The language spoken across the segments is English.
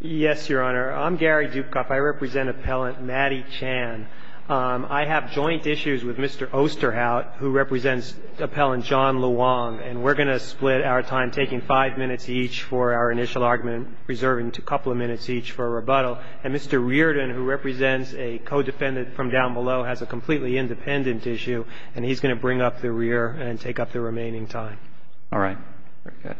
Yes, Your Honor. I'm Gary Dukoff. I represent Appellant Matty Chan. I have joint issues with Mr. Osterhout, who represents Appellant John Luong, and we're going to split our time, taking five minutes each for our initial argument, reserving a couple of minutes each for a rebuttal. And Mr. Reardon, who represents a co-defendant from down below, has a completely independent issue, and he's going to bring up the rear and take up the remaining time. All right. Very good.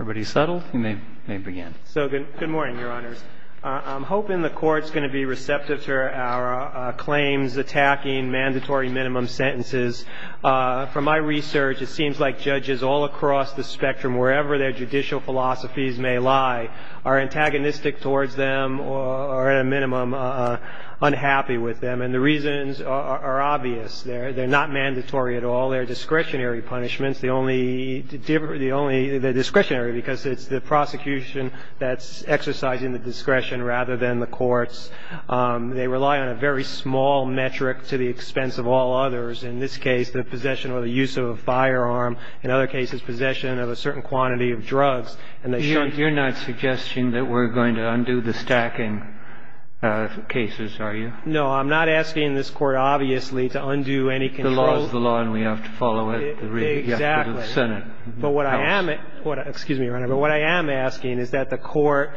Everybody settled? You may begin. So good morning, Your Honors. I'm hoping the Court's going to be receptive to our claims attacking mandatory minimum sentences. From my research, it seems like judges all across the spectrum, wherever their judicial philosophies may lie, are antagonistic towards them or, at a minimum, unhappy with them. And the reasons are obvious. They're not mandatory at all. They're discretionary punishments. They're discretionary because it's the prosecution that's exercising the discretion rather than the courts. They rely on a very small metric to the expense of all others, in this case the possession or the use of a firearm, in other cases possession of a certain quantity of drugs. And they shouldn't be. You're not suggesting that we're going to undo the stacking cases, are you? No. I'm not asking this Court, obviously, to undo any control. The law is the law, and we have to follow it. Exactly. The Senate. But what I am asking is that the Court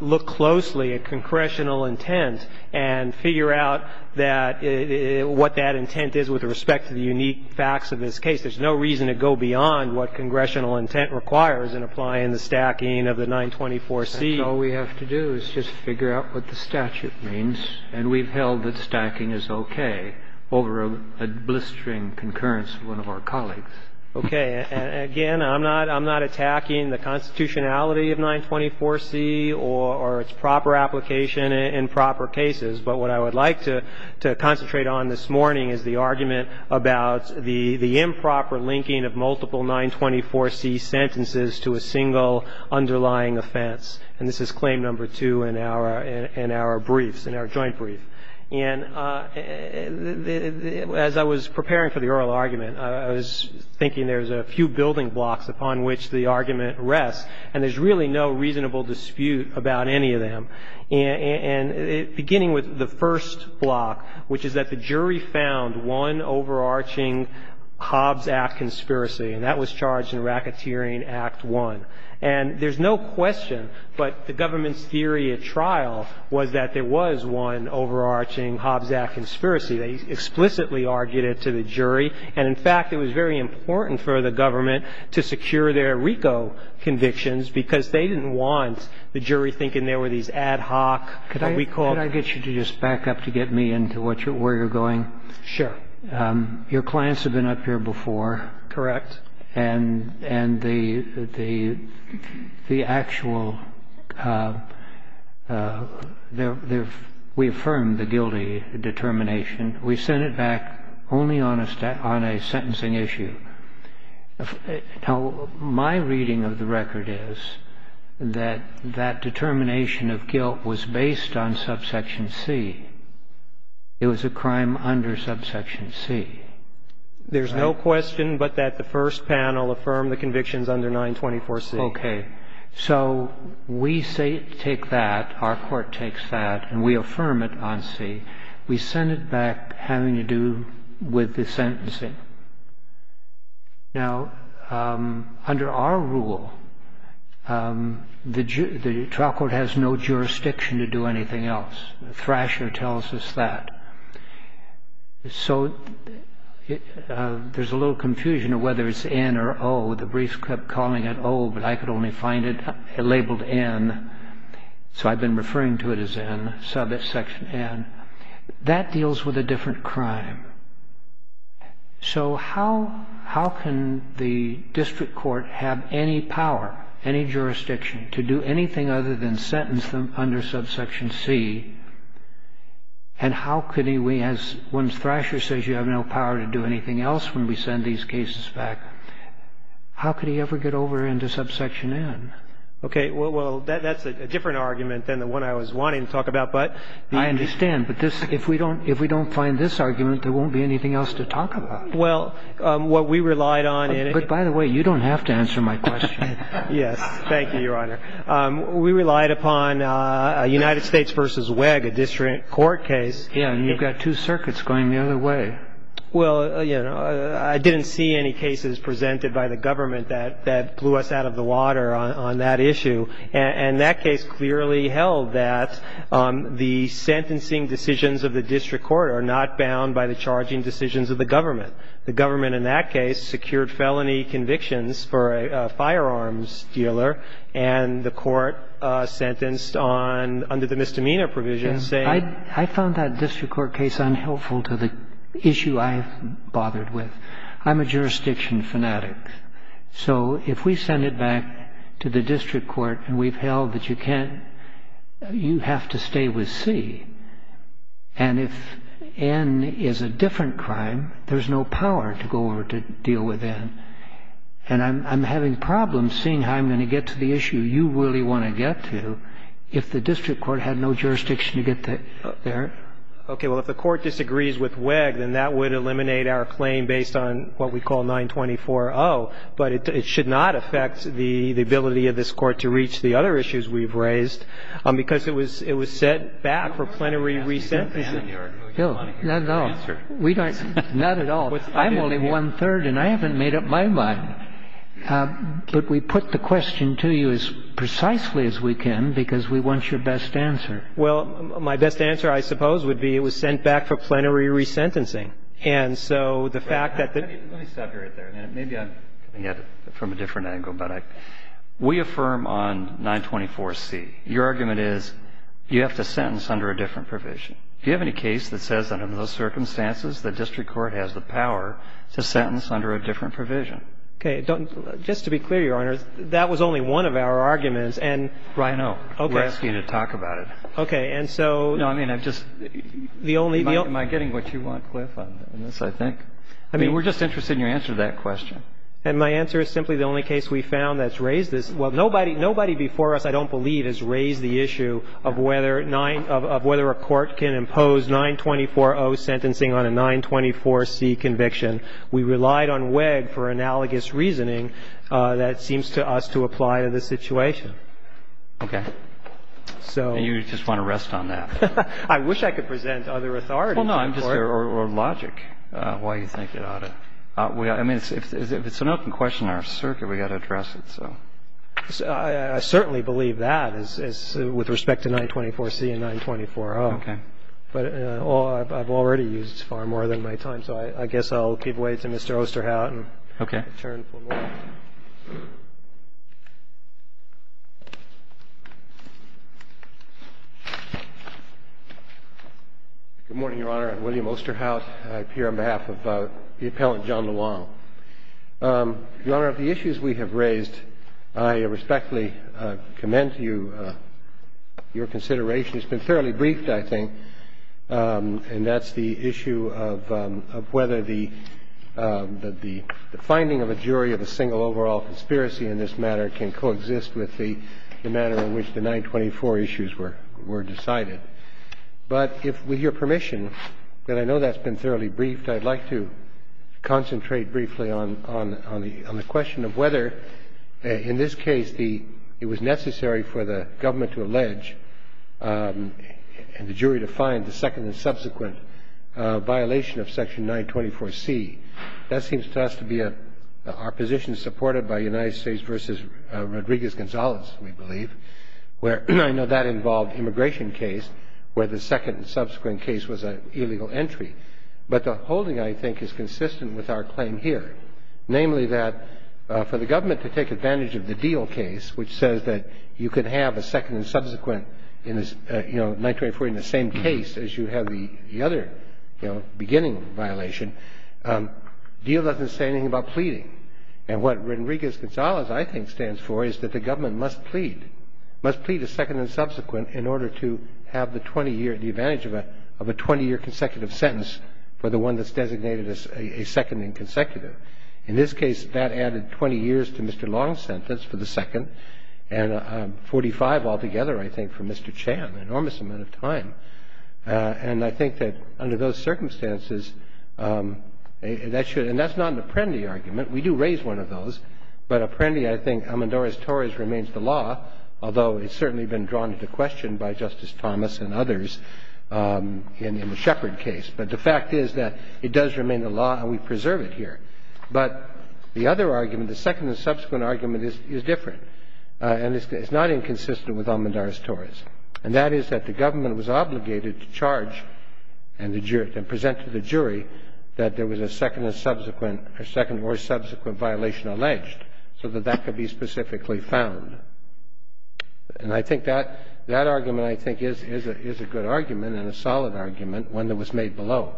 look closely at congressional intent and figure out what that intent is with respect to the unique facts of this case. There's no reason to go beyond what congressional intent requires in applying the stacking of the 924C. All we have to do is just figure out what the statute means. And we've held that stacking is okay over a blistering concurrence of one of our colleagues. Okay. Again, I'm not attacking the constitutionality of 924C or its proper application in proper cases. But what I would like to concentrate on this morning is the argument about the improper linking of multiple 924C sentences to a single underlying offense. And this is Claim No. 2 in our briefs, in our joint brief. And as I was preparing for the oral argument, I was thinking there's a few building blocks upon which the argument rests, and there's really no reasonable dispute about any of them, beginning with the first block, which is that the jury found one overarching Hobbs Act conspiracy, and that was charged in Racketeering Act I. And there's no question, but the government's theory at trial was that there was one overarching Hobbs Act conspiracy. They explicitly argued it to the jury. And, in fact, it was very important for the government to secure their RICO convictions because they didn't want the jury thinking there were these ad hoc recalls. Can I get you to just back up to get me into where you're going? Sure. Your clients have been up here before. Correct. And the actual we affirmed the guilty determination. We sent it back only on a sentencing issue. Now, my reading of the record is that that determination of guilt was based on subsection C. It was a crime under subsection C. There's no question but that the first panel affirmed the convictions under 924C. Okay. So we take that, our court takes that, and we affirm it on C. We send it back having to do with the sentencing. Now, under our rule, the trial court has no jurisdiction to do anything else. Thrasher tells us that. So there's a little confusion of whether it's N or O. The briefs kept calling it O, but I could only find it labeled N. So I've been referring to it as N, subsection N. That deals with a different crime. So how can the district court have any power, any jurisdiction, to do anything other than sentence them under subsection C? And how could he, when Thrasher says you have no power to do anything else when we send these cases back, how could he ever get over into subsection N? Okay. Well, that's a different argument than the one I was wanting to talk about. I understand. But if we don't find this argument, there won't be anything else to talk about. Well, what we relied on in it. But, by the way, you don't have to answer my question. Yes. Thank you, Your Honor. We relied upon a United States v. Wegg, a district court case. Yeah. And you've got two circuits going the other way. Well, you know, I didn't see any cases presented by the government that blew us out of the water on that issue. And that case clearly held that the sentencing decisions of the district court are not bound by the charging decisions of the government. The government, in that case, secured felony convictions for a firearms dealer. And the court sentenced under the misdemeanor provision. I found that district court case unhelpful to the issue I've bothered with. I'm a jurisdiction fanatic. So if we send it back to the district court and we've held that you can't, you have to stay with C. And if N is a different crime, there's no power to go over to deal with N. And I'm having problems seeing how I'm going to get to the issue you really want to get to if the district court had no jurisdiction to get there. Okay. Well, if the court disagrees with Wegg, then that would eliminate our claim based on what we call 924-0. But it should not affect the ability of this Court to reach the other issues we've raised because it was set back for plenary resentencing. No. Not at all. Not at all. I'm only one-third, and I haven't made up my mind. But we put the question to you as precisely as we can because we want your best answer. Well, my best answer, I suppose, would be it was sent back for plenary resentencing. And so the fact that the ---- Let me stop you right there. Maybe I'm coming at it from a different angle. But we affirm on 924-C, your argument is you have to sentence under a different provision. Do you have any case that says under those circumstances the district court has the power to sentence under a different provision? Okay. Just to be clear, Your Honor, that was only one of our arguments. And ---- I know. We're asking you to talk about it. Okay. And so ---- No, I mean, I just ---- The only ---- Am I getting what you want, Cliff, on this, I think? I mean, we're just interested in your answer to that question. And my answer is simply the only case we found that's raised this. Well, nobody before us, I don't believe, has raised the issue of whether a court can impose 924-O sentencing on a 924-C conviction. We relied on WEG for analogous reasoning that seems to us to apply to this situation. Okay. So ---- And you just want to rest on that. I wish I could present other authorities. Well, no, I'm just ---- Or logic, why you think it ought to. I mean, if it's an open question in our circuit, we've got to address it. So ---- I certainly believe that with respect to 924-C and 924-O. Okay. But I've already used far more than my time. So I guess I'll give way to Mr. Osterhout and return for more. Okay. Good morning, Your Honor. I'm William Osterhout. I appear on behalf of the Appellant John Lewong. Your Honor, of the issues we have raised, I respectfully commend you your consideration. It's been fairly briefed, I think, and that's the issue of whether the finding of a jury of a single overall conviction can coexist with the manner in which the 924 issues were decided. But if we hear permission, and I know that's been fairly briefed, I'd like to concentrate briefly on the question of whether, in this case, it was necessary for the government to allege and the jury to find the second and subsequent violation of Section 924-C. That seems to us to be our position supported by United States v. Rodriguez-Gonzalez, we believe, where I know that involved immigration case where the second and subsequent case was an illegal entry. But the holding, I think, is consistent with our claim here, namely that for the government to take advantage of the deal case, which says that you could have a second and subsequent 924 in the same case as you have the other beginning violation, the deal doesn't say anything about pleading. And what Rodriguez-Gonzalez, I think, stands for is that the government must plead, must plead a second and subsequent in order to have the 20-year, the advantage of a 20-year consecutive sentence for the one that's designated as a second and consecutive. In this case, that added 20 years to Mr. Long's sentence for the second, and 45 altogether, I think, for Mr. Chan, an enormous amount of time. And I think that under those circumstances, that should, and that's not an Apprendi argument. We do raise one of those. But Apprendi, I think, Amandaris-Torres remains the law, although it's certainly been drawn into question by Justice Thomas and others in the Shepherd case. But the fact is that it does remain the law, and we preserve it here. But the other argument, the second and subsequent argument, is different. And it's not inconsistent with Amandaris-Torres. And that is that the government was obligated to charge and present to the jury that there was a second and subsequent, a second or subsequent violation alleged, so that that could be specifically found. And I think that argument, I think, is a good argument and a solid argument, one that was made below.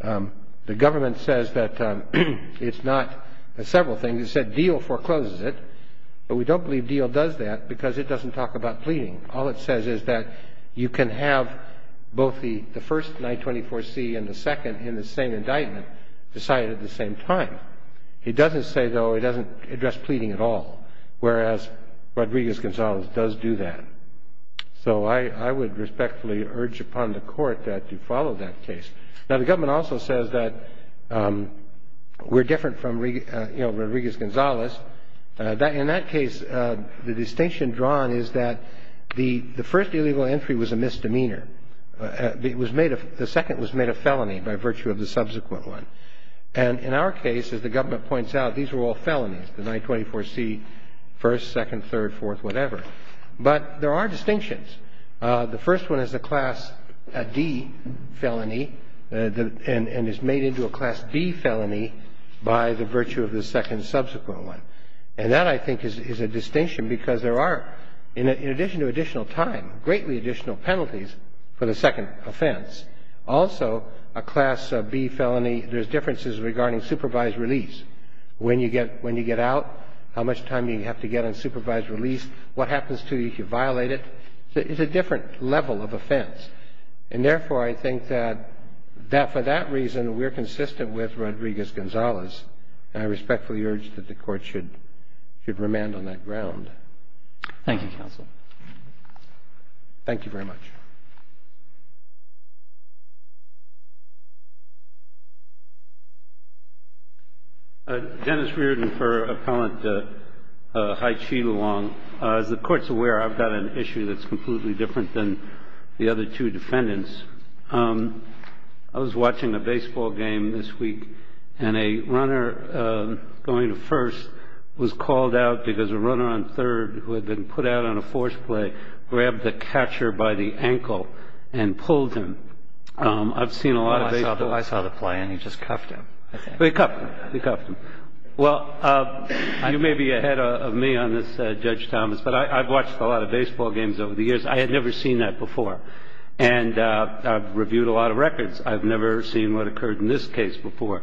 The government says that it's not several things. It said Diehl forecloses it. But we don't believe Diehl does that because it doesn't talk about pleading. All it says is that you can have both the first 924C and the second in the same indictment decided at the same time. It doesn't say, though, it doesn't address pleading at all, whereas Rodriguez-Gonzalez does do that. So I would respectfully urge upon the Court that you follow that case. Now, the government also says that we're different from, you know, Rodriguez-Gonzalez. In that case, the distinction drawn is that the first illegal entry was a misdemeanor. It was made a – the second was made a felony by virtue of the subsequent one. And in our case, as the government points out, these were all felonies, the 924C first, second, third, fourth, whatever. But there are distinctions. The first one is a Class D felony, and it's made into a Class D felony by the virtue of the second subsequent one. And that, I think, is a distinction because there are, in addition to additional time, greatly additional penalties for the second offense. Also, a Class B felony, there's differences regarding supervised release. When you get out, how much time you have to get on supervised release, what happens to you if you violate it. It's a different level of offense. And therefore, I think that for that reason, we're consistent with Rodriguez-Gonzalez. And I respectfully urge that the Court should remand on that ground. Thank you, Counsel. Thank you very much. Dennis Reardon for Appellant Hai Chi Luong. As the Court's aware, I've got an issue that's completely different than the other two defendants. I was watching a baseball game this week, and a runner going to first was called out because a runner on third who had been put out on a forced play grabbed the catcher by the ankle and pulled him. I've seen a lot of baseball. Well, I saw the play, and he just cuffed him, I think. He cuffed him. He cuffed him. Well, you may be ahead of me on this, Judge Thomas, but I've watched a lot of baseball games over the years. I had never seen that before. And I've reviewed a lot of records. I've never seen what occurred in this case before.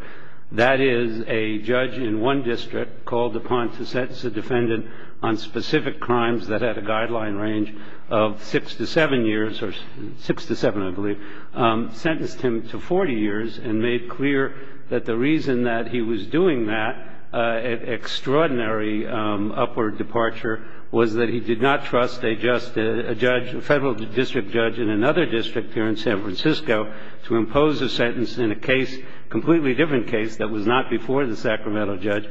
That is, a judge in one district called upon to sentence a defendant on specific crimes that had a guideline range of 6 to 7 years or 6 to 7, I believe, sentenced him to 40 years and made clear that the reason that he was doing that extraordinary upward departure was that he did not trust a federal district judge in another district here in San Francisco to impose a sentence in a case, a completely different case that was not before the Sacramento judge,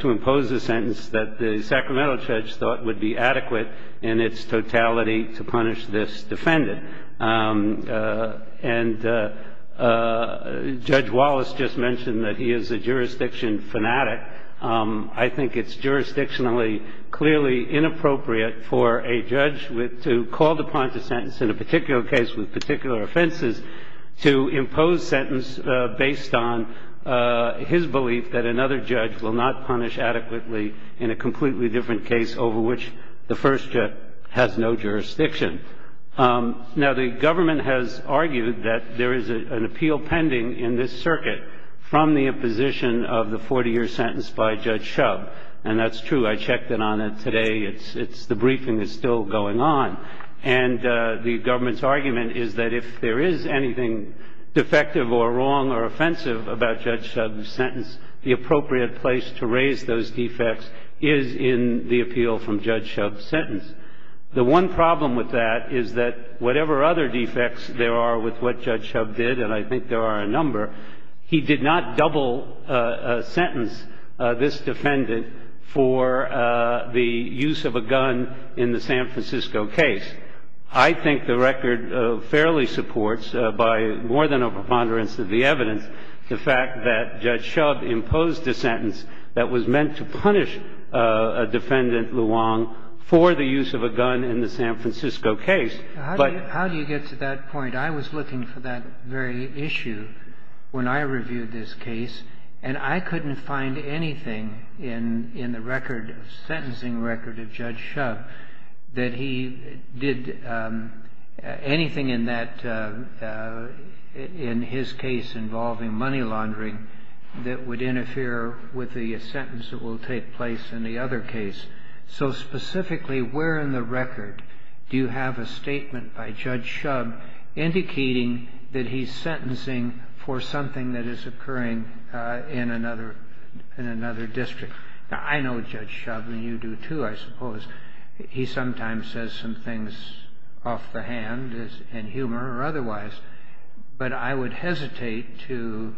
to impose a sentence that the Sacramento judge thought would be adequate in its totality to punish this defendant. And Judge Wallace just mentioned that he is a jurisdiction fanatic. I think it's jurisdictionally clearly inappropriate for a judge to call upon to sentence in a particular case with particular offenses to impose sentence based on his belief that another judge will not punish adequately in a completely different case over which the first judge has no jurisdiction. Now, the government has argued that there is an appeal pending in this circuit from the imposition of the 40-year sentence by Judge Shub. And that's true. I checked in on it today. The briefing is still going on. And the government's argument is that if there is anything defective or wrong or offensive about Judge Shub's sentence, the appropriate place to raise those defects is in the appeal from Judge Shub's sentence. The one problem with that is that whatever other defects there are with what Judge Shub did, and I think there are a number, he did not double sentence this defendant for the use of a gun in the San Francisco case. I think the record fairly supports, by more than a preponderance of the evidence, the fact that Judge Shub imposed a sentence that was meant to punish a defendant, Luong, for the use of a gun in the San Francisco case. But how do you get to that point? I was looking for that very issue when I reviewed this case, and I couldn't find anything in the record, the sentencing record of Judge Shub, that he did anything in his case involving money laundering that would interfere with the sentence that will take place in the other case. So specifically, where in the record do you have a statement by Judge Shub indicating that he's sentencing for something that is occurring in another district? Now, I know Judge Shub, and you do too, I suppose. He sometimes says some things off the hand in humor or otherwise, but I would hesitate to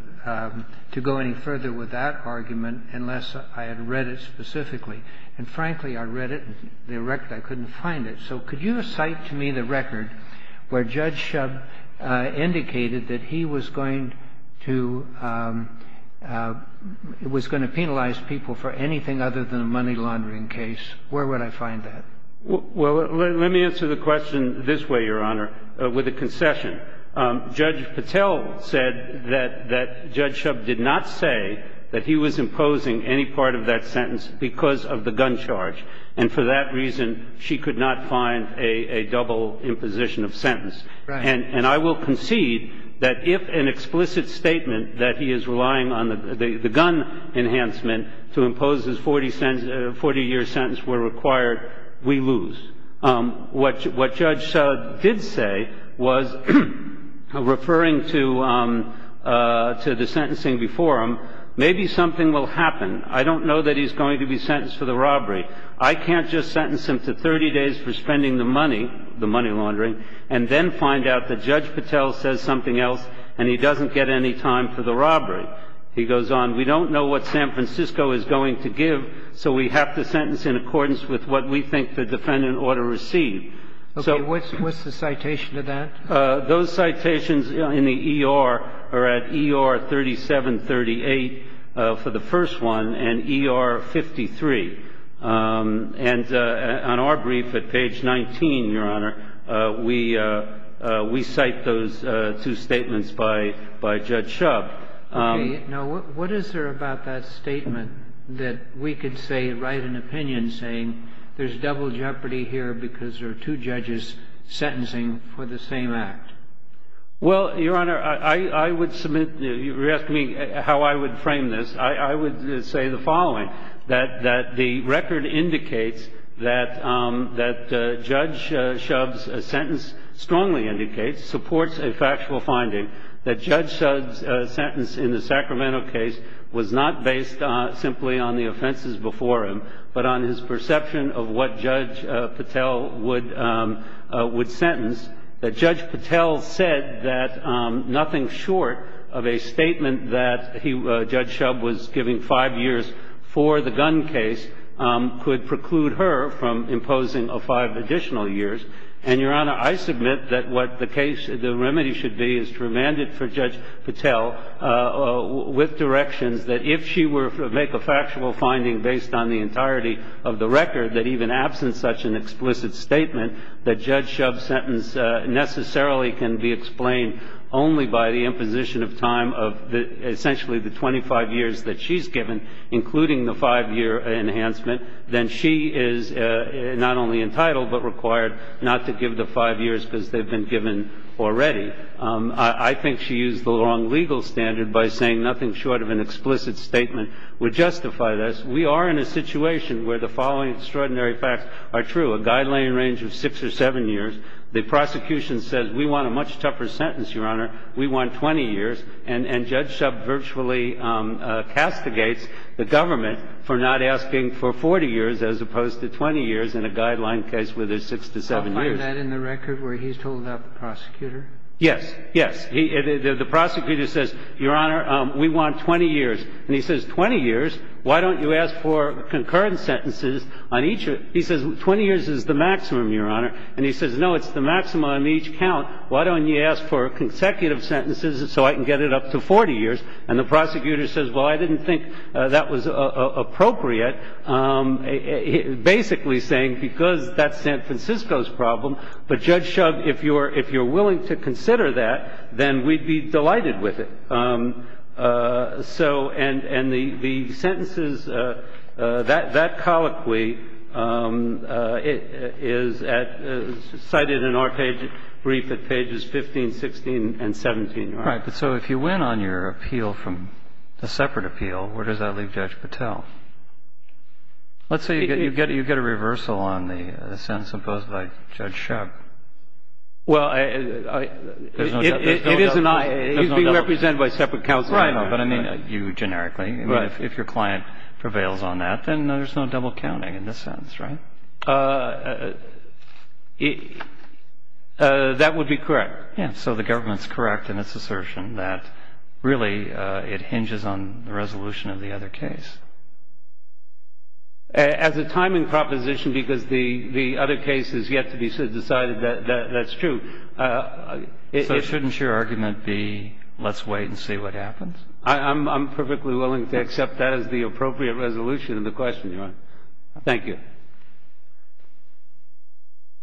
go any further with that argument unless I had read it specifically. And frankly, I read it, and I couldn't find it. So could you cite to me the record where Judge Shub indicated that he was going to penalize people for anything other than a money laundering case? Where would I find that? Well, let me answer the question this way, Your Honor, with a concession. Judge Patel said that Judge Shub did not say that he was imposing any part of that sentence because of the gun charge, and for that reason she could not find a double imposition of sentence. Right. And I will concede that if an explicit statement that he is relying on the gun enhancement to impose his 40-year sentence were required, we lose. What Judge Shub did say was, referring to the sentencing before him, maybe something will happen. I don't know that he's going to be sentenced for the robbery. I can't just sentence him to 30 days for spending the money, the money laundering, and then find out that Judge Patel says something else and he doesn't get any time for the robbery. He goes on, we don't know what San Francisco is going to give, so we have to sentence in accordance with what we think the defendant ought to receive. Okay. What's the citation to that? Those citations in the E.R. are at E.R. 3738 for the first one and E.R. 53. And on our brief at page 19, Your Honor, we cite those two statements by Judge Shub. Okay. Now, what is there about that statement that we could say, write an opinion saying, there's double jeopardy here because there are two judges sentencing for the same act? Well, Your Honor, I would submit, you asked me how I would frame this. I would say the following, that the record indicates that Judge Shub's sentence strongly indicates, supports a factual finding, that Judge Shub's sentence in the Sacramento case was not based simply on the offenses before him, but on his perception of what Judge Patel would sentence, that Judge Patel said that nothing short of a statement that Judge Shub was giving five years for the gun case could preclude her from imposing five additional years. And, Your Honor, I submit that what the case, the remedy should be is to remand it for Judge Patel with directions that if she were to make a factual finding based on the entirety of the record, that even absent such an explicit statement, that Judge Shub's sentence necessarily can be explained only by the imposition of time of essentially the 25 years that she's given, including the five-year enhancement, then she is not only entitled but required not to give the five years because they've been given already. I think she used the wrong legal standard by saying nothing short of an explicit statement would justify this. We are in a situation where the following extraordinary facts are true. A guideline range of 6 or 7 years. The prosecution says we want a much tougher sentence, Your Honor. We want 20 years. And Judge Shub virtually castigates the government for not asking for 40 years as opposed to 20 years in a guideline case where there's 6 to 7 years. So I find that in the record where he's told about the prosecutor? Yes. Yes. The prosecutor says, Your Honor, we want 20 years. And he says, 20 years? Why don't you ask for concurrent sentences on each of them? He says 20 years is the maximum, Your Honor. And he says, no, it's the maximum on each count. Why don't you ask for consecutive sentences so I can get it up to 40 years? And the prosecutor says, well, I didn't think that was appropriate, basically saying because that's San Francisco's problem. But, Judge Shub, if you're willing to consider that, then we'd be delighted with it. So and the sentences, that colloquy is cited in our brief at pages 15, 16, and 17. All right. But so if you win on your appeal from a separate appeal, where does that leave Judge Patel? Let's say you get a reversal on the sentence imposed by Judge Shub. Well, I. It is an I. It is being represented by separate counsel. Right. But I mean you generically. Right. If your client prevails on that, then there's no double counting in this sentence, right? That would be correct. Yeah. So the government's correct in its assertion that really it hinges on the resolution of the other case. As a timing proposition, because the other case has yet to be decided, that's true. So shouldn't your argument be let's wait and see what happens? I'm perfectly willing to accept that as the appropriate resolution of the question, Your Honor. Thank you.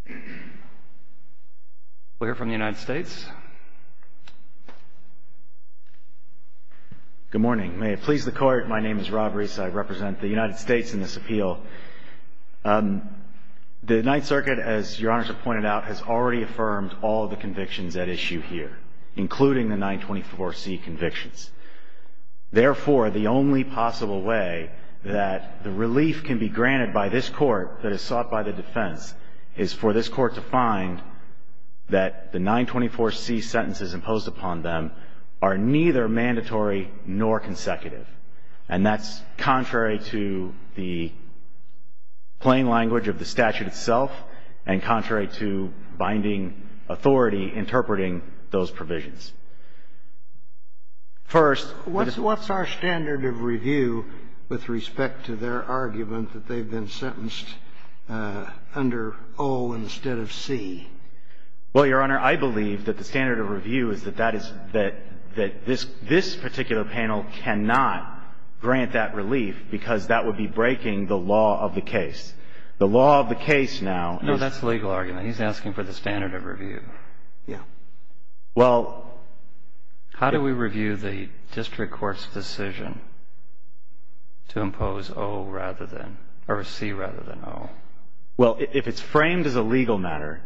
Thank you. We'll hear from the United States. Good morning. May it please the Court, my name is Rob Reese. I represent the United States in this appeal. The Ninth Circuit, as Your Honors have pointed out, has already affirmed all the convictions at issue here, including the 924C convictions. Therefore, the only possible way that the relief can be granted by this Court that is sought by the defense is for this Court to find that the 924C sentences imposed upon them are neither mandatory nor consecutive. And that's contrary to the plain language of the statute itself and contrary to binding authority interpreting those provisions. First, what's our standard of review with respect to their argument that they've been sentenced under O instead of C? Well, Your Honor, I believe that the standard of review is that that is that this particular panel cannot grant that relief because that would be breaking the law of the case. The law of the case now is. No, that's the legal argument. He's asking for the standard of review. Yeah. Well. How do we review the district court's decision to impose O rather than or C rather than O? Well, if it's framed as a legal matter,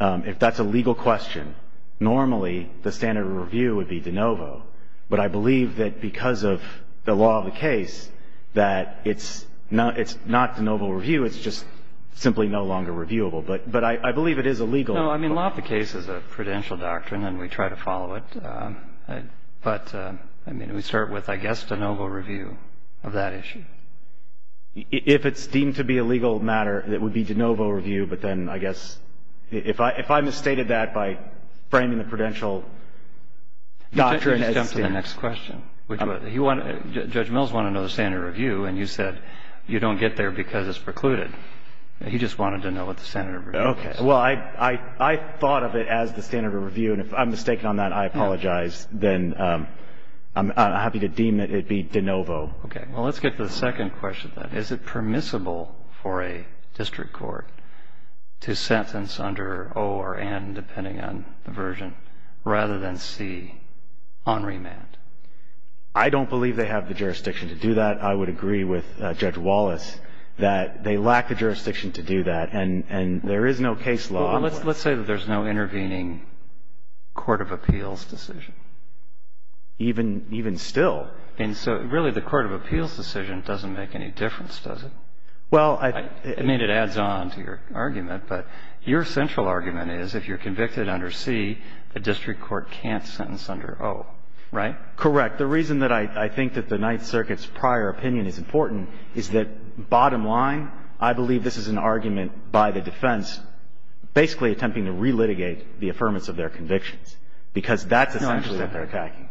if that's a legal question, normally the standard of review would be de novo. But I believe that because of the law of the case that it's not de novo review. It's just simply no longer reviewable. But I believe it is a legal. No, I mean, law of the case is a prudential doctrine, and we try to follow it. But, I mean, we start with, I guess, de novo review of that issue. If it's deemed to be a legal matter, it would be de novo review. But then I guess if I misstated that by framing the prudential doctrine as. Let's jump to the next question. Judge Mills wanted to know the standard of review, and you said you don't get there because it's precluded. He just wanted to know what the standard of review is. Okay. Well, I thought of it as the standard of review. And if I'm mistaken on that, I apologize. Then I'm happy to deem it to be de novo. Okay. Well, let's get to the second question, then. Is it permissible for a district court to sentence under O or N, depending on the version, rather than C on remand? I don't believe they have the jurisdiction to do that. I would agree with Judge Wallace that they lack the jurisdiction to do that. And there is no case law. Well, let's say that there's no intervening court of appeals decision, even still. And so really the court of appeals decision doesn't make any difference, does it? Well, I think it adds on to your argument, but your central argument is if you're convicted under C, a district court can't sentence under O, right? Correct. The reason that I think that the Ninth Circuit's prior opinion is important is that, bottom line, I believe this is an argument by the defense basically attempting to relitigate the affirmance of their convictions, because that's essentially what they're attacking.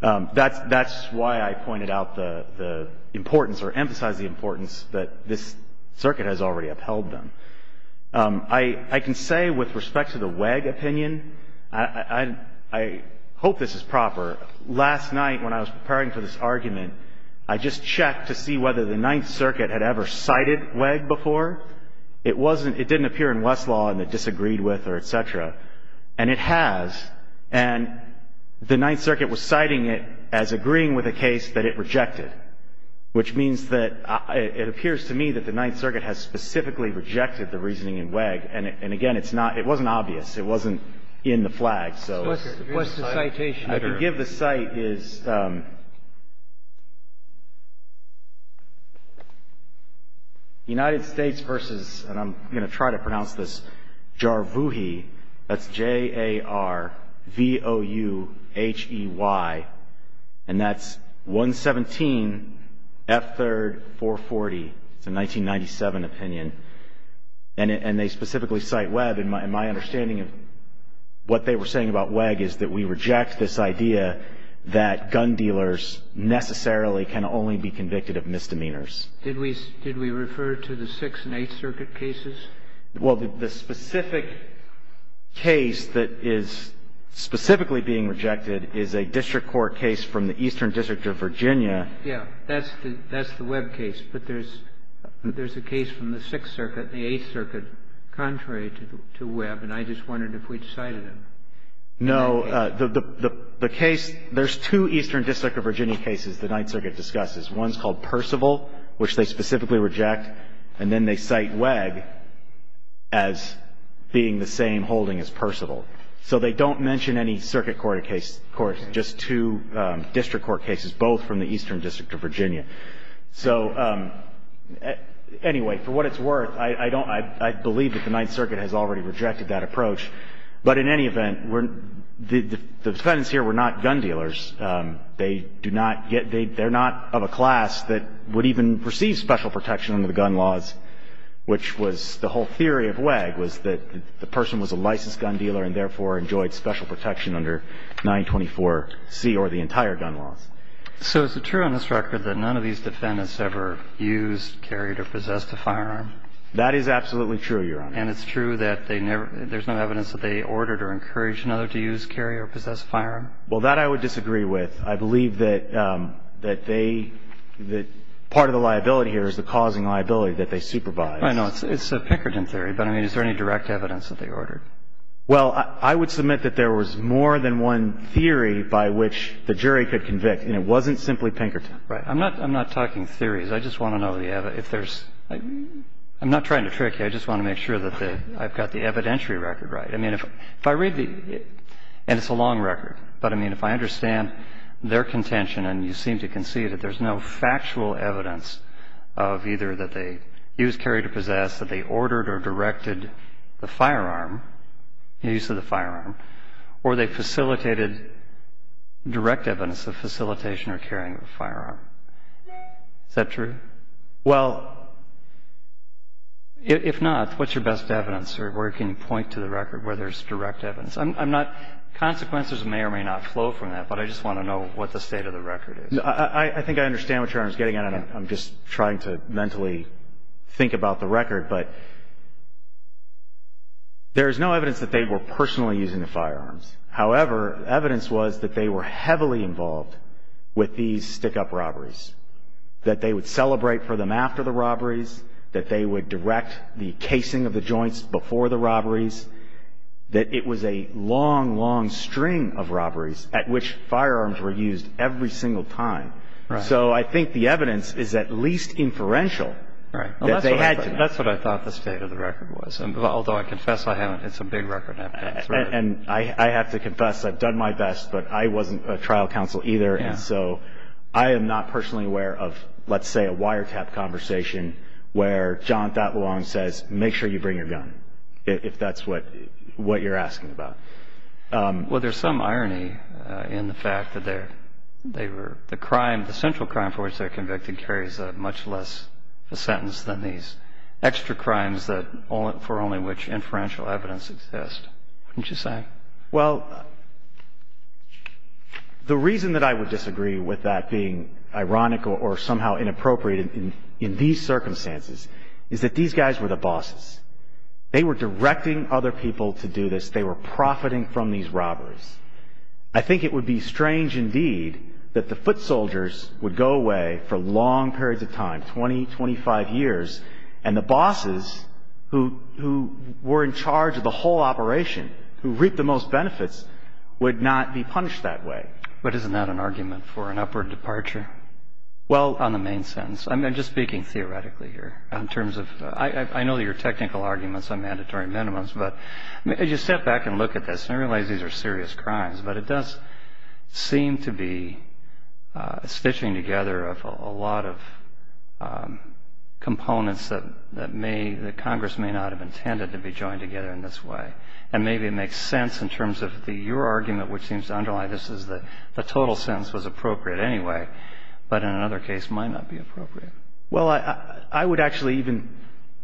That's why I pointed out the importance or emphasized the importance that this circuit has already upheld them. I can say with respect to the WEG opinion, I hope this is proper. Last night when I was preparing for this argument, I just checked to see whether the Ninth Circuit had ever cited WEG before. It wasn't. It didn't appear in Westlaw and it disagreed with or et cetera. And it has. And the Ninth Circuit was citing it as agreeing with a case that it rejected, which means that it appears to me that the Ninth Circuit has specifically rejected the reasoning in WEG. And, again, it's not – it wasn't obvious. It wasn't in the flag. What's the citation? I can give the cite is United States versus, and I'm going to try to pronounce this, Jarvuhi, that's J-A-R-V-O-U-H-E-Y, and that's 117 F3rd 440. It's a 1997 opinion. And they specifically cite WEG, and my understanding of what they were saying about WEG is that we reject this idea that gun dealers necessarily can only be convicted of misdemeanors. Did we refer to the Sixth and Eighth Circuit cases? Well, the specific case that is specifically being rejected is a district court case from the Eastern District of Virginia. Yeah. That's the WEB case, but there's a case from the Sixth Circuit, the Eighth Circuit, contrary to WEB, and I just wondered if we'd cited it. No. The case – there's two Eastern District of Virginia cases the Ninth Circuit discusses. One's called Percival, which they specifically reject, and then they cite WEG as being the same holding as Percival. So they don't mention any circuit court case, just two district court cases, both from the Eastern District of Virginia. So anyway, for what it's worth, I don't – I believe that the Ninth Circuit has already rejected that approach. But in any event, the defendants here were not gun dealers. They do not get – they're not of a class that would even receive special protection under the gun laws, which was – the whole theory of WEG was that the person was a licensed gun dealer and therefore enjoyed special protection under 924C or the entire gun laws. So is it true on this record that none of these defendants ever used, carried, or possessed a firearm? That is absolutely true, Your Honor. And it's true that they never – there's no evidence that they ordered or encouraged another to use, carry, or possess a firearm? Well, that I would disagree with. I believe that they – that part of the liability here is the causing liability that they supervised. I know. It's a Pickerton theory, but I mean, is there any direct evidence that they ordered? Well, I would submit that there was more than one theory by which the jury could convict, and it wasn't simply Pinkerton. Right. I'm not – I'm not talking theories. I just want to know if there's – I'm not trying to trick you. I just want to make sure that I've got the evidentiary record right. I mean, if I read the – and it's a long record, but I mean, if I understand their contention and you seem to concede that there's no factual evidence of either that they used, carried, or possessed, that they ordered or directed the firearm, use of the firearm, or they facilitated direct evidence of facilitation or carrying of a firearm, is that true? Well, if not, what's your best evidence or where can you point to the record where there's direct evidence? I'm not – consequences may or may not flow from that, but I just want to know what the state of the record is. I think I understand what Your Honor is getting at. I'm just trying to mentally think about the record. But there's no evidence that they were personally using the firearms. However, evidence was that they were heavily involved with these stick-up robberies, that they would celebrate for them after the robberies, that they would direct the casing of the joints before the robberies, that it was a long, long string of robberies at which firearms were used every single time. Right. So I think the evidence is at least inferential. Right. That's what I thought the state of the record was, although I confess I haven't. It's a big record. And I have to confess, I've done my best, but I wasn't a trial counsel either, and so I am not personally aware of, let's say, a wiretap conversation where John Thaddeau Long says, make sure you bring your gun, if that's what you're asking about. Well, there's some irony in the fact that the crime, the central crime for which they're convicted, carries much less of a sentence than these extra crimes for only which inferential evidence exists, wouldn't you say? Well, the reason that I would disagree with that being ironic or somehow inappropriate in these circumstances is that these guys were the bosses. They were directing other people to do this. They were profiting from these robbers. I think it would be strange indeed that the foot soldiers would go away for long periods of time, 20, 25 years, and the bosses who were in charge of the whole operation, who reaped the most benefits, would not be punished that way. But isn't that an argument for an upward departure on the main sentence? I'm just speaking theoretically here. I know your technical arguments on mandatory minimums, but as you step back and look at this and realize these are serious crimes, but it does seem to be a stitching together of a lot of components that Congress may not have intended to be joined together in this way. And maybe it makes sense in terms of your argument, which seems to underline this as the total sentence was appropriate anyway, but in another case might not be appropriate. Well, I would actually even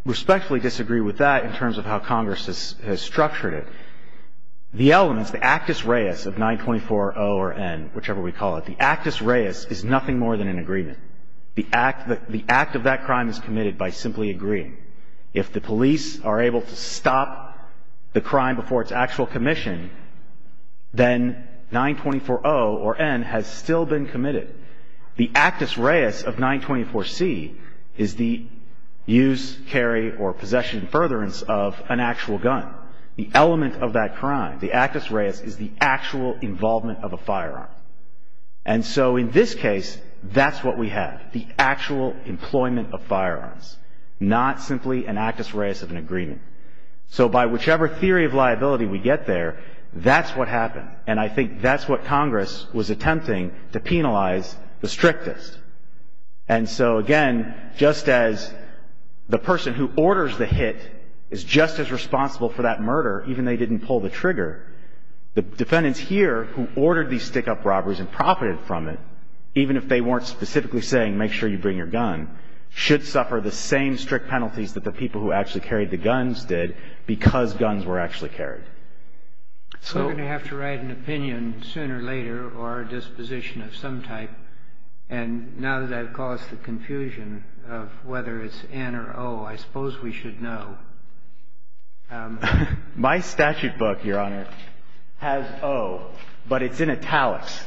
respectfully disagree with that in terms of how Congress has structured it. The elements, the actus reus of 924-0 or N, whichever we call it, the actus reus is nothing more than an agreement. The act of that crime is committed by simply agreeing. If the police are able to stop the crime before its actual commission, then 924-0 or N has still been committed. The actus reus of 924-C is the use, carry, or possession and furtherance of an actual gun. The element of that crime, the actus reus, is the actual involvement of a firearm. And so in this case, that's what we have, the actual employment of firearms, not simply an actus reus of an agreement. So by whichever theory of liability we get there, that's what happened. And I think that's what Congress was attempting to penalize the strictest. And so again, just as the person who orders the hit is just as responsible for that murder, even they didn't pull the trigger, the defendants here who ordered these stick-up robberies and profited from it, even if they weren't specifically saying make sure you bring your gun, should suffer the same strict penalties that the people who actually carried the guns did because guns were actually carried. We're going to have to write an opinion sooner or later or a disposition of some type. And now that I've caused the confusion of whether it's N or O, I suppose we should know. My statute book, Your Honor, has O, but it's in italics.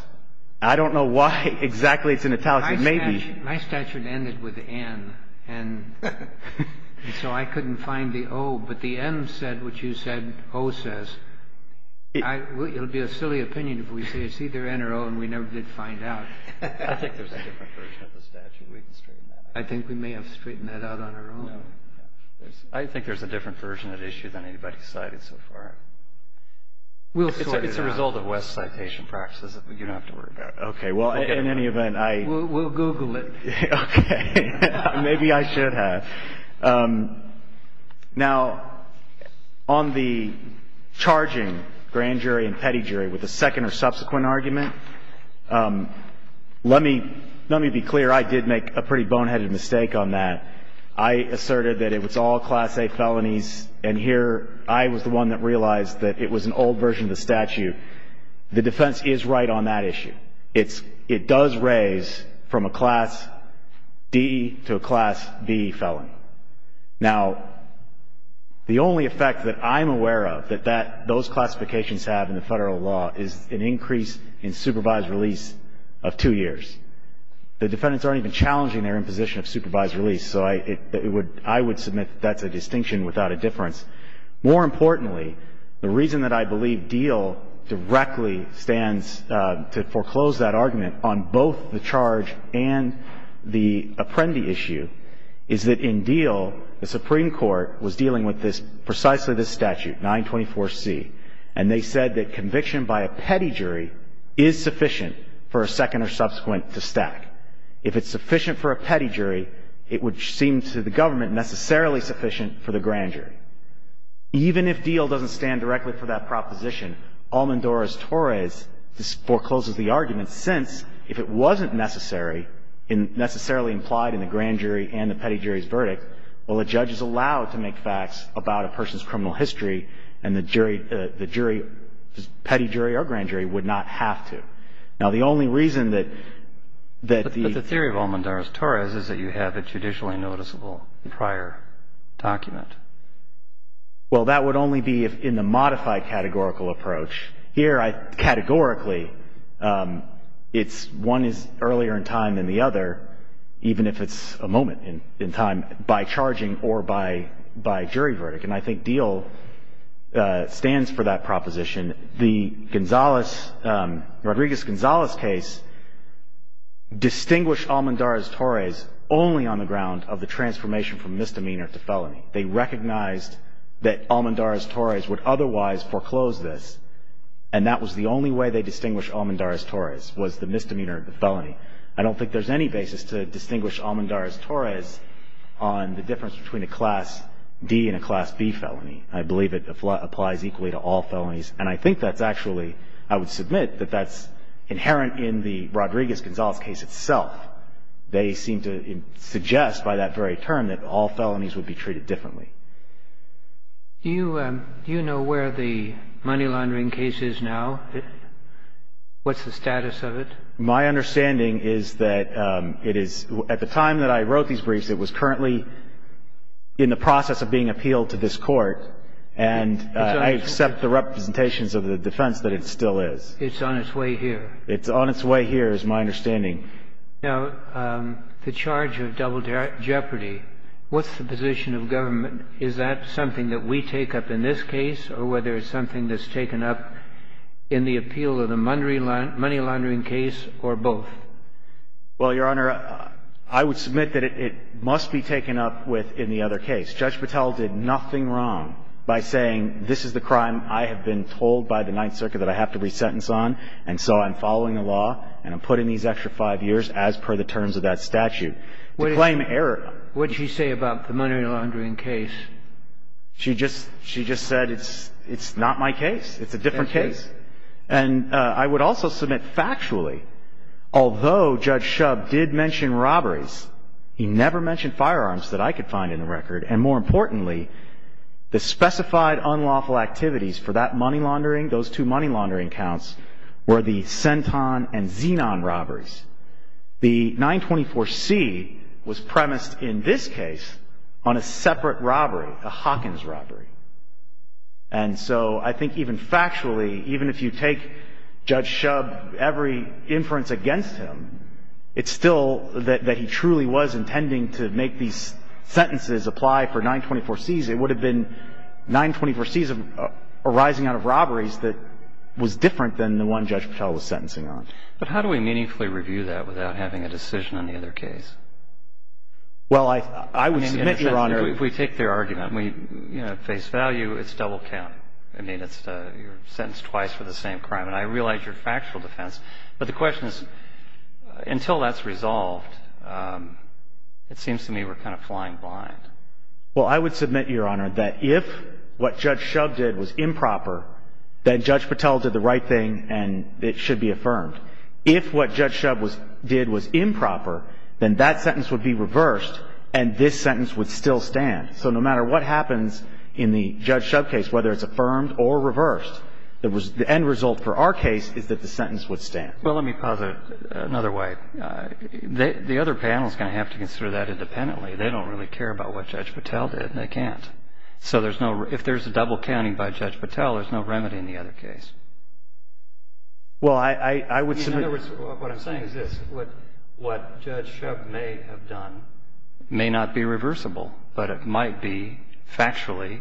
I don't know why exactly it's in italics. It may be. My statute ended with N. And so I couldn't find the O. But the N said what you said O says. It would be a silly opinion if we say it's either N or O and we never did find out. I think there's a different version of the statute. We can straighten that out. I think we may have straightened that out on our own. No. I think there's a different version of the issue than anybody cited so far. We'll sort it out. It's a result of West citation practices that you don't have to worry about. Okay. Well, in any event, I... We'll Google it. Okay. Maybe I should have. Now, on the charging grand jury and petty jury with a second or subsequent argument, let me be clear, I did make a pretty boneheaded mistake on that. I asserted that it was all Class A felonies, and here I was the one that realized that it was an old version of the statute. The defense is right on that issue. It does raise from a Class D to a Class B felon. Now, the only effect that I'm aware of that those classifications have in the federal law is an increase in supervised release of two years. The defendants aren't even challenging their imposition of supervised release, so I would submit that's a distinction without a difference. More importantly, the reason that I believe Diehl directly stands to foreclose that argument on both the charge and the Apprendi issue is that in Diehl, the Supreme Court was dealing with precisely this statute, 924C, and they said that conviction by a petty jury is sufficient for a second or subsequent to stack. If it's sufficient for a petty jury, it would seem to the government necessarily sufficient for the grand jury. Even if Diehl doesn't stand directly for that proposition, Almodoros-Torres forecloses the argument since if it wasn't necessary and necessarily implied in the grand jury and the petty jury's verdict, well, the judge is allowed to make facts about a person's criminal history and the jury, the jury, the petty jury or grand jury would not have to. Now, the only reason that the ---- that the judge would not have a judicially noticeable prior document. Well, that would only be in the modified categorical approach. Here, categorically, it's one is earlier in time than the other, even if it's a moment in time by charging or by jury verdict, and I think Diehl stands for that proposition. The Gonzales, Rodriguez-Gonzales case distinguished Almodoros-Torres only on the ground of the transformation from misdemeanor to felony. They recognized that Almodoros-Torres would otherwise foreclose this and that was the only way they distinguished Almodoros-Torres was the misdemeanor of the felony. I don't think there's any basis to distinguish Almodoros-Torres on the difference between a Class D and a Class B felony. I believe it applies equally to all felonies and I think that's actually, I would submit, that that's inherent in the Rodriguez-Gonzales case itself. They seem to suggest by that very term that all felonies would be treated differently. Do you know where the money laundering case is now? What's the status of it? My understanding is that it is, at the time that I wrote these briefs, it was currently in the process of being appealed to this Court and I accept the representations of the defense that it still is. It's on its way here. It's on its way here is my understanding. Now, the charge of double jeopardy, what's the position of government? Is that something that we take up in this case or whether it's something that's taken up in the appeal of the money laundering case or both? Well, Your Honor, I would submit that it must be taken up with in the other case. Judge Patel did nothing wrong by saying, this is the crime I have been told by the Ninth Circuit that I have to be sentenced on and so I'm following the law and I'm putting these extra five years as per the terms of that statute to claim error. What did she say about the money laundering case? She just said it's not my case. It's a different case. And I would also submit factually, although Judge Shub did mention robberies, he never mentioned firearms that I could find in the record and more importantly, the specified unlawful activities for that money laundering, those two money laundering counts, were the Centon and Zenon robberies. The 924C was premised in this case on a separate robbery, a Hawkins robbery. And so I think even factually, even if you take Judge Shub, every inference against him, it's still that he truly was intending to make these sentences apply for 924Cs. It would have been 924Cs arising out of robberies that was different than the one Judge Patel was sentencing on. But how do we meaningfully review that without having a decision on the other case? Well, I would submit, Your Honor. If we take their argument and we face value, it's double count. I mean, it's your sentence twice for the same crime. And I realize you're factual defense. But the question is, until that's resolved, it seems to me we're kind of flying blind. Well, I would submit, Your Honor, that if what Judge Shub did was improper, then Judge Patel did the right thing and it should be affirmed. If what Judge Shub did was improper, then that sentence would be reversed and this sentence would still stand. So no matter what happens in the Judge Shub case, whether it's affirmed or reversed, the end result for our case is that the sentence would stand. Well, let me posit another way. The other panel is going to have to consider that independently. They don't really care about what Judge Patel did. They can't. So if there's a double counting by Judge Patel, there's no remedy in the other case. Well, I would submit. In other words, what I'm saying is this. What Judge Shub may have done may not be reversible, but it might be factually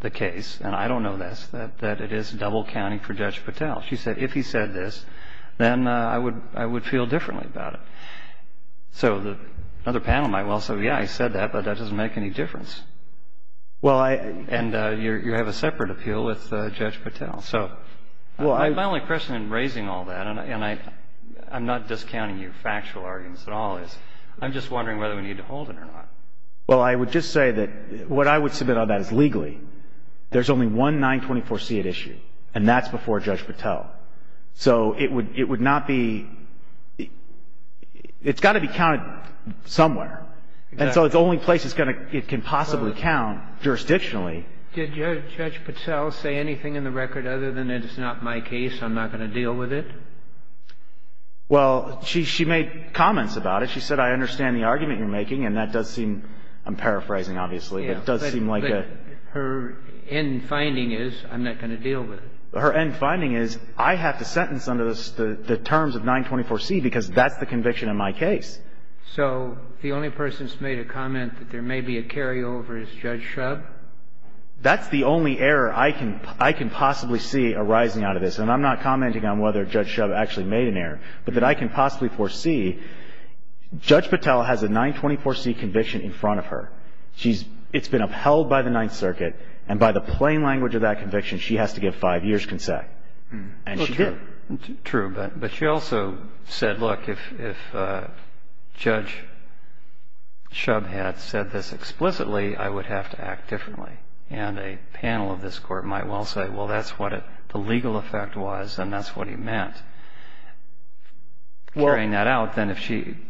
the case, and I don't know this, that it is double counting for Judge Patel. If he said this, then I would feel differently about it. So another panel might well say, yeah, he said that, but that doesn't make any difference. Well, and you have a separate appeal with Judge Patel. My only question in raising all that, and I'm not discounting your factual arguments at all, is I'm just wondering whether we need to hold it or not. Well, I would just say that what I would submit on that is legally there's only one 924C at issue, and that's before Judge Patel. So it would not be – it's got to be counted somewhere. And so it's the only place it can possibly count jurisdictionally. Did Judge Patel say anything in the record other than it is not my case, I'm not going to deal with it? Well, she made comments about it. She said, I understand the argument you're making, and that does seem – I'm paraphrasing, obviously, but it does seem like a – Her end finding is I'm not going to deal with it. Her end finding is I have to sentence under the terms of 924C because that's the conviction in my case. So the only person that's made a comment that there may be a carryover is Judge Shub? That's the only error I can – I can possibly see arising out of this, and I'm not commenting on whether Judge Shub actually made an error, but that I can possibly foresee. Judge Patel has a 924C conviction in front of her. She's – it's been upheld by the Ninth Circuit, and by the plain language of that conviction, she has to give five years' consent. And she did. True, but she also said, look, if Judge Shub had said this explicitly, I would have to act differently. And a panel of this Court might well say, well, that's what the legal effect was and that's what he meant. Carrying that out, then if she –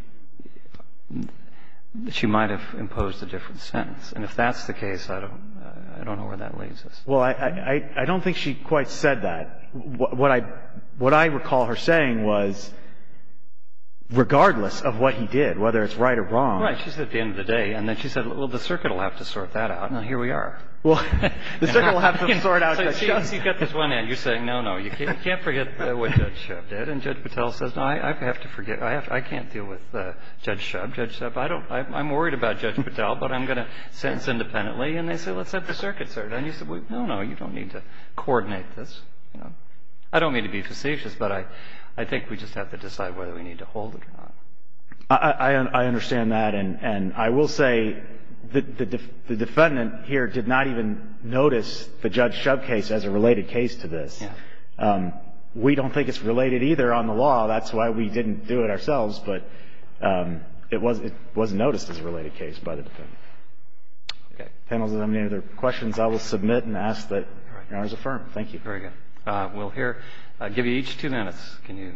she might have imposed a different sentence. And if that's the case, I don't know where that leads us. Well, I don't think she quite said that. What I – what I recall her saying was regardless of what he did, whether it's right or wrong. Right. She said at the end of the day. And then she said, well, the circuit will have to sort that out. Now, here we are. Well, the circuit will have to sort out Judge Shub. So you've got this one end. You're saying, no, no, you can't forget what Judge Shub did. And Judge Patel says, no, I have to forget. I can't deal with Judge Shub. Judge Shub, I don't – I'm worried about Judge Patel, but I'm going to sentence independently. And they say, let's have the circuit sort it. And you say, well, no, no, you don't need to coordinate this. I don't mean to be facetious, but I think we just have to decide whether we need to hold it or not. I understand that. And I will say the defendant here did not even notice the Judge Shub case as a related case to this. We don't think it's related either on the law. That's why we didn't do it ourselves. But it was noticed as a related case by the defendant. Okay. Panelists, does anyone have any other questions? I will submit and ask that your Honor's affirm. Very good. We'll hear – give you each two minutes. Can you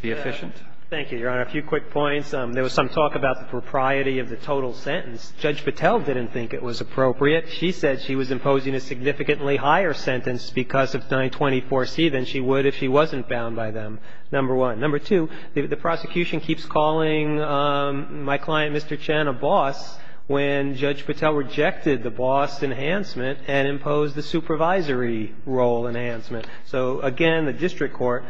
be efficient? Thank you, Your Honor. A few quick points. There was some talk about the propriety of the total sentence. Judge Patel didn't think it was appropriate. She said she was imposing a significantly higher sentence because of 924C than she would if she wasn't bound by them, number one. Number two, the prosecution keeps calling my client, Mr. Chen, a boss when Judge Patel rejected the boss enhancement and imposed the supervisory role enhancement. So, again, the district court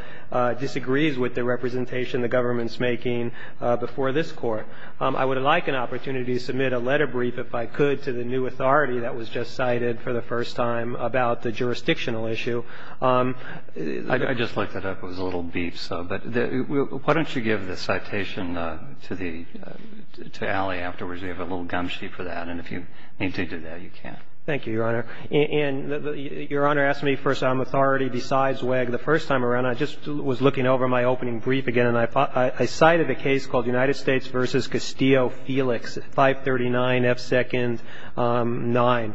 disagrees with the representation the government's making before this Court. I would like an opportunity to submit a letter brief, if I could, to the new authority that was just cited for the first time about the jurisdictional issue. I just looked it up. It was a little beef, so. But why don't you give the citation to Ali afterwards? We have a little gum sheet for that. And if you need to do that, you can. Thank you, Your Honor. And, Your Honor, ask me first. I'm authority besides WEG. The first time around, I just was looking over my opening brief again, and I cited a case called United States v. Castillo-Felix, 539F2-9,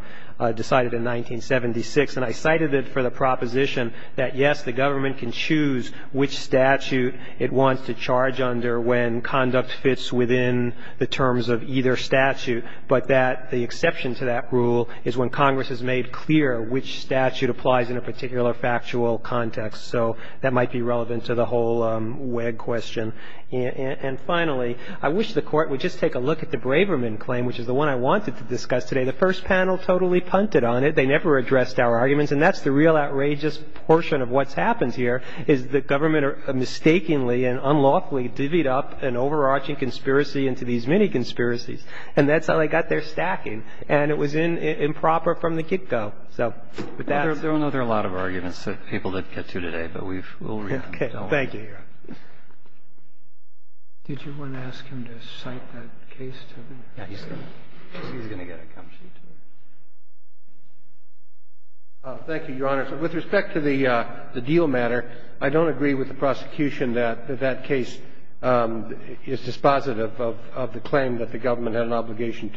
decided in 1976. And I cited it for the proposition that, yes, the government can choose which statute it wants to charge under when conduct fits within the terms of either statute, but that the exception to that rule is when Congress has made clear which statute applies in a particular factual context. So that might be relevant to the whole WEG question. And finally, I wish the Court would just take a look at the Braverman claim, which is the one I wanted to discuss today. The first panel totally punted on it. They never addressed our arguments. And that's the real outrageous portion of what's happened here, is the government mistakenly and unlawfully divvied up an overarching conspiracy into these many conspiracies. And that's how they got their stacking. And it was improper from the get-go. So with that ---- Roberts. There are a lot of arguments that people didn't get to today, but we'll read them. Okay. Thank you, Your Honor. Did you want to ask him to cite that case to me? Yes, he's going to. He's going to get it. Thank you, Your Honor. With respect to the deal matter, I don't agree with the prosecution that that case is dispositive of the claim that the government had an obligation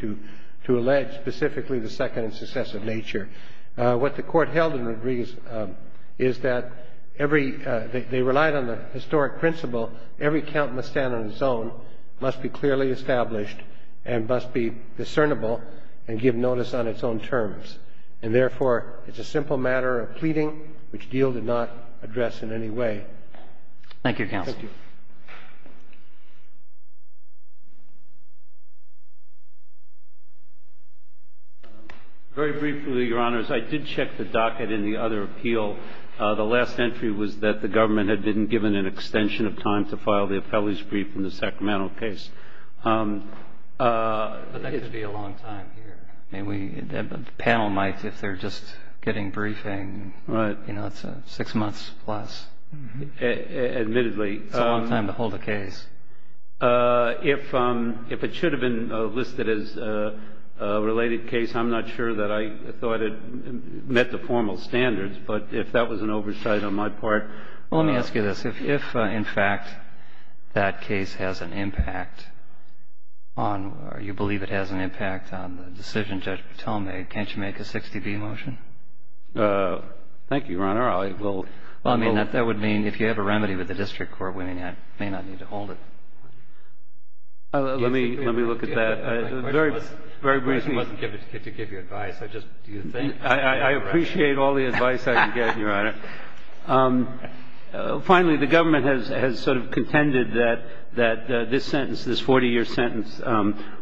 to allege, specifically the second and successive nature. What the Court held and agrees is that every ---- they relied on the historic principle every count must stand on its own, must be clearly established, and must be discernible and give notice on its own terms. And therefore, it's a simple matter of pleading, which the deal did not address in any way. Thank you, Counsel. Thank you. Very briefly, Your Honors, I did check the docket in the other appeal. The last entry was that the government had been given an extension of time to file the appellee's brief in the Sacramento case. But that could be a long time here. I mean, the panel might, if they're just getting briefing, you know, it's six months plus. Admittedly. It's a long time to hold a case. If it should have been listed as a related case, I'm not sure that I thought it met the formal standards. But if that was an oversight on my part ---- Well, let me ask you this. If, in fact, that case has an impact on or you believe it has an impact on the decision Judge Patel made, can't you make a 60-B motion? Thank you, Your Honor. Well, I mean, that would mean if you have a remedy with the district court, we may not need to hold it. Let me look at that. My question wasn't to give you advice. I just ---- I appreciate all the advice I can get, Your Honor. Finally, the government has sort of contended that this sentence, this 40-year sentence,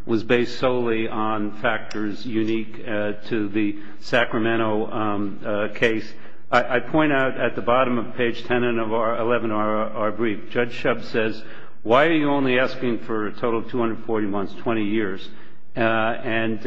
was based solely on factors unique to the Sacramento case. I point out at the bottom of page 10 and 11 of our brief, Judge Shub says, why are you only asking for a total of 240 months, 20 years? And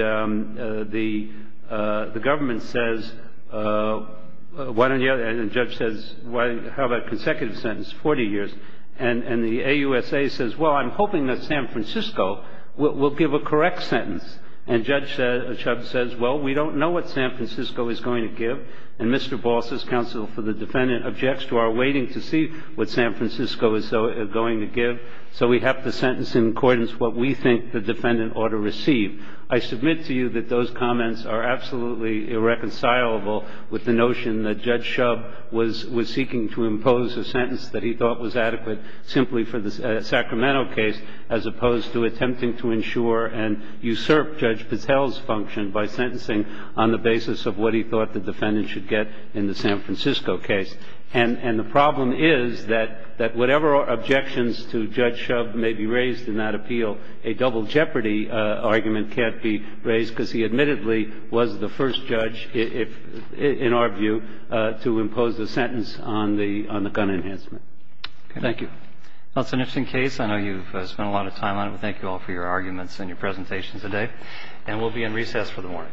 the government says, why don't you ---- and the judge says, how about a consecutive sentence, 40 years? And the AUSA says, well, I'm hoping that San Francisco will give a correct sentence. And Judge Shub says, well, we don't know what San Francisco is going to give. And Mr. Voss's counsel for the defendant objects to our waiting to see what San Francisco is going to give. So we have to sentence in accordance what we think the defendant ought to receive. I submit to you that those comments are absolutely irreconcilable with the notion that Judge Shub was seeking to impose a sentence that he thought was adequate simply for the Sacramento case, as opposed to attempting to ensure and usurp Judge Patel's function by sentencing on the basis of what he thought the defendant should get in the San Francisco case. And the problem is that whatever objections to Judge Shub may be raised in that appeal, a double jeopardy argument can't be raised because he admittedly was the first judge, in our view, to impose a sentence on the gun enhancement. Thank you. Well, it's an interesting case. I know you've spent a lot of time on it. We thank you all for your arguments and your presentations today. And we'll be in recess for the morning. Thank you.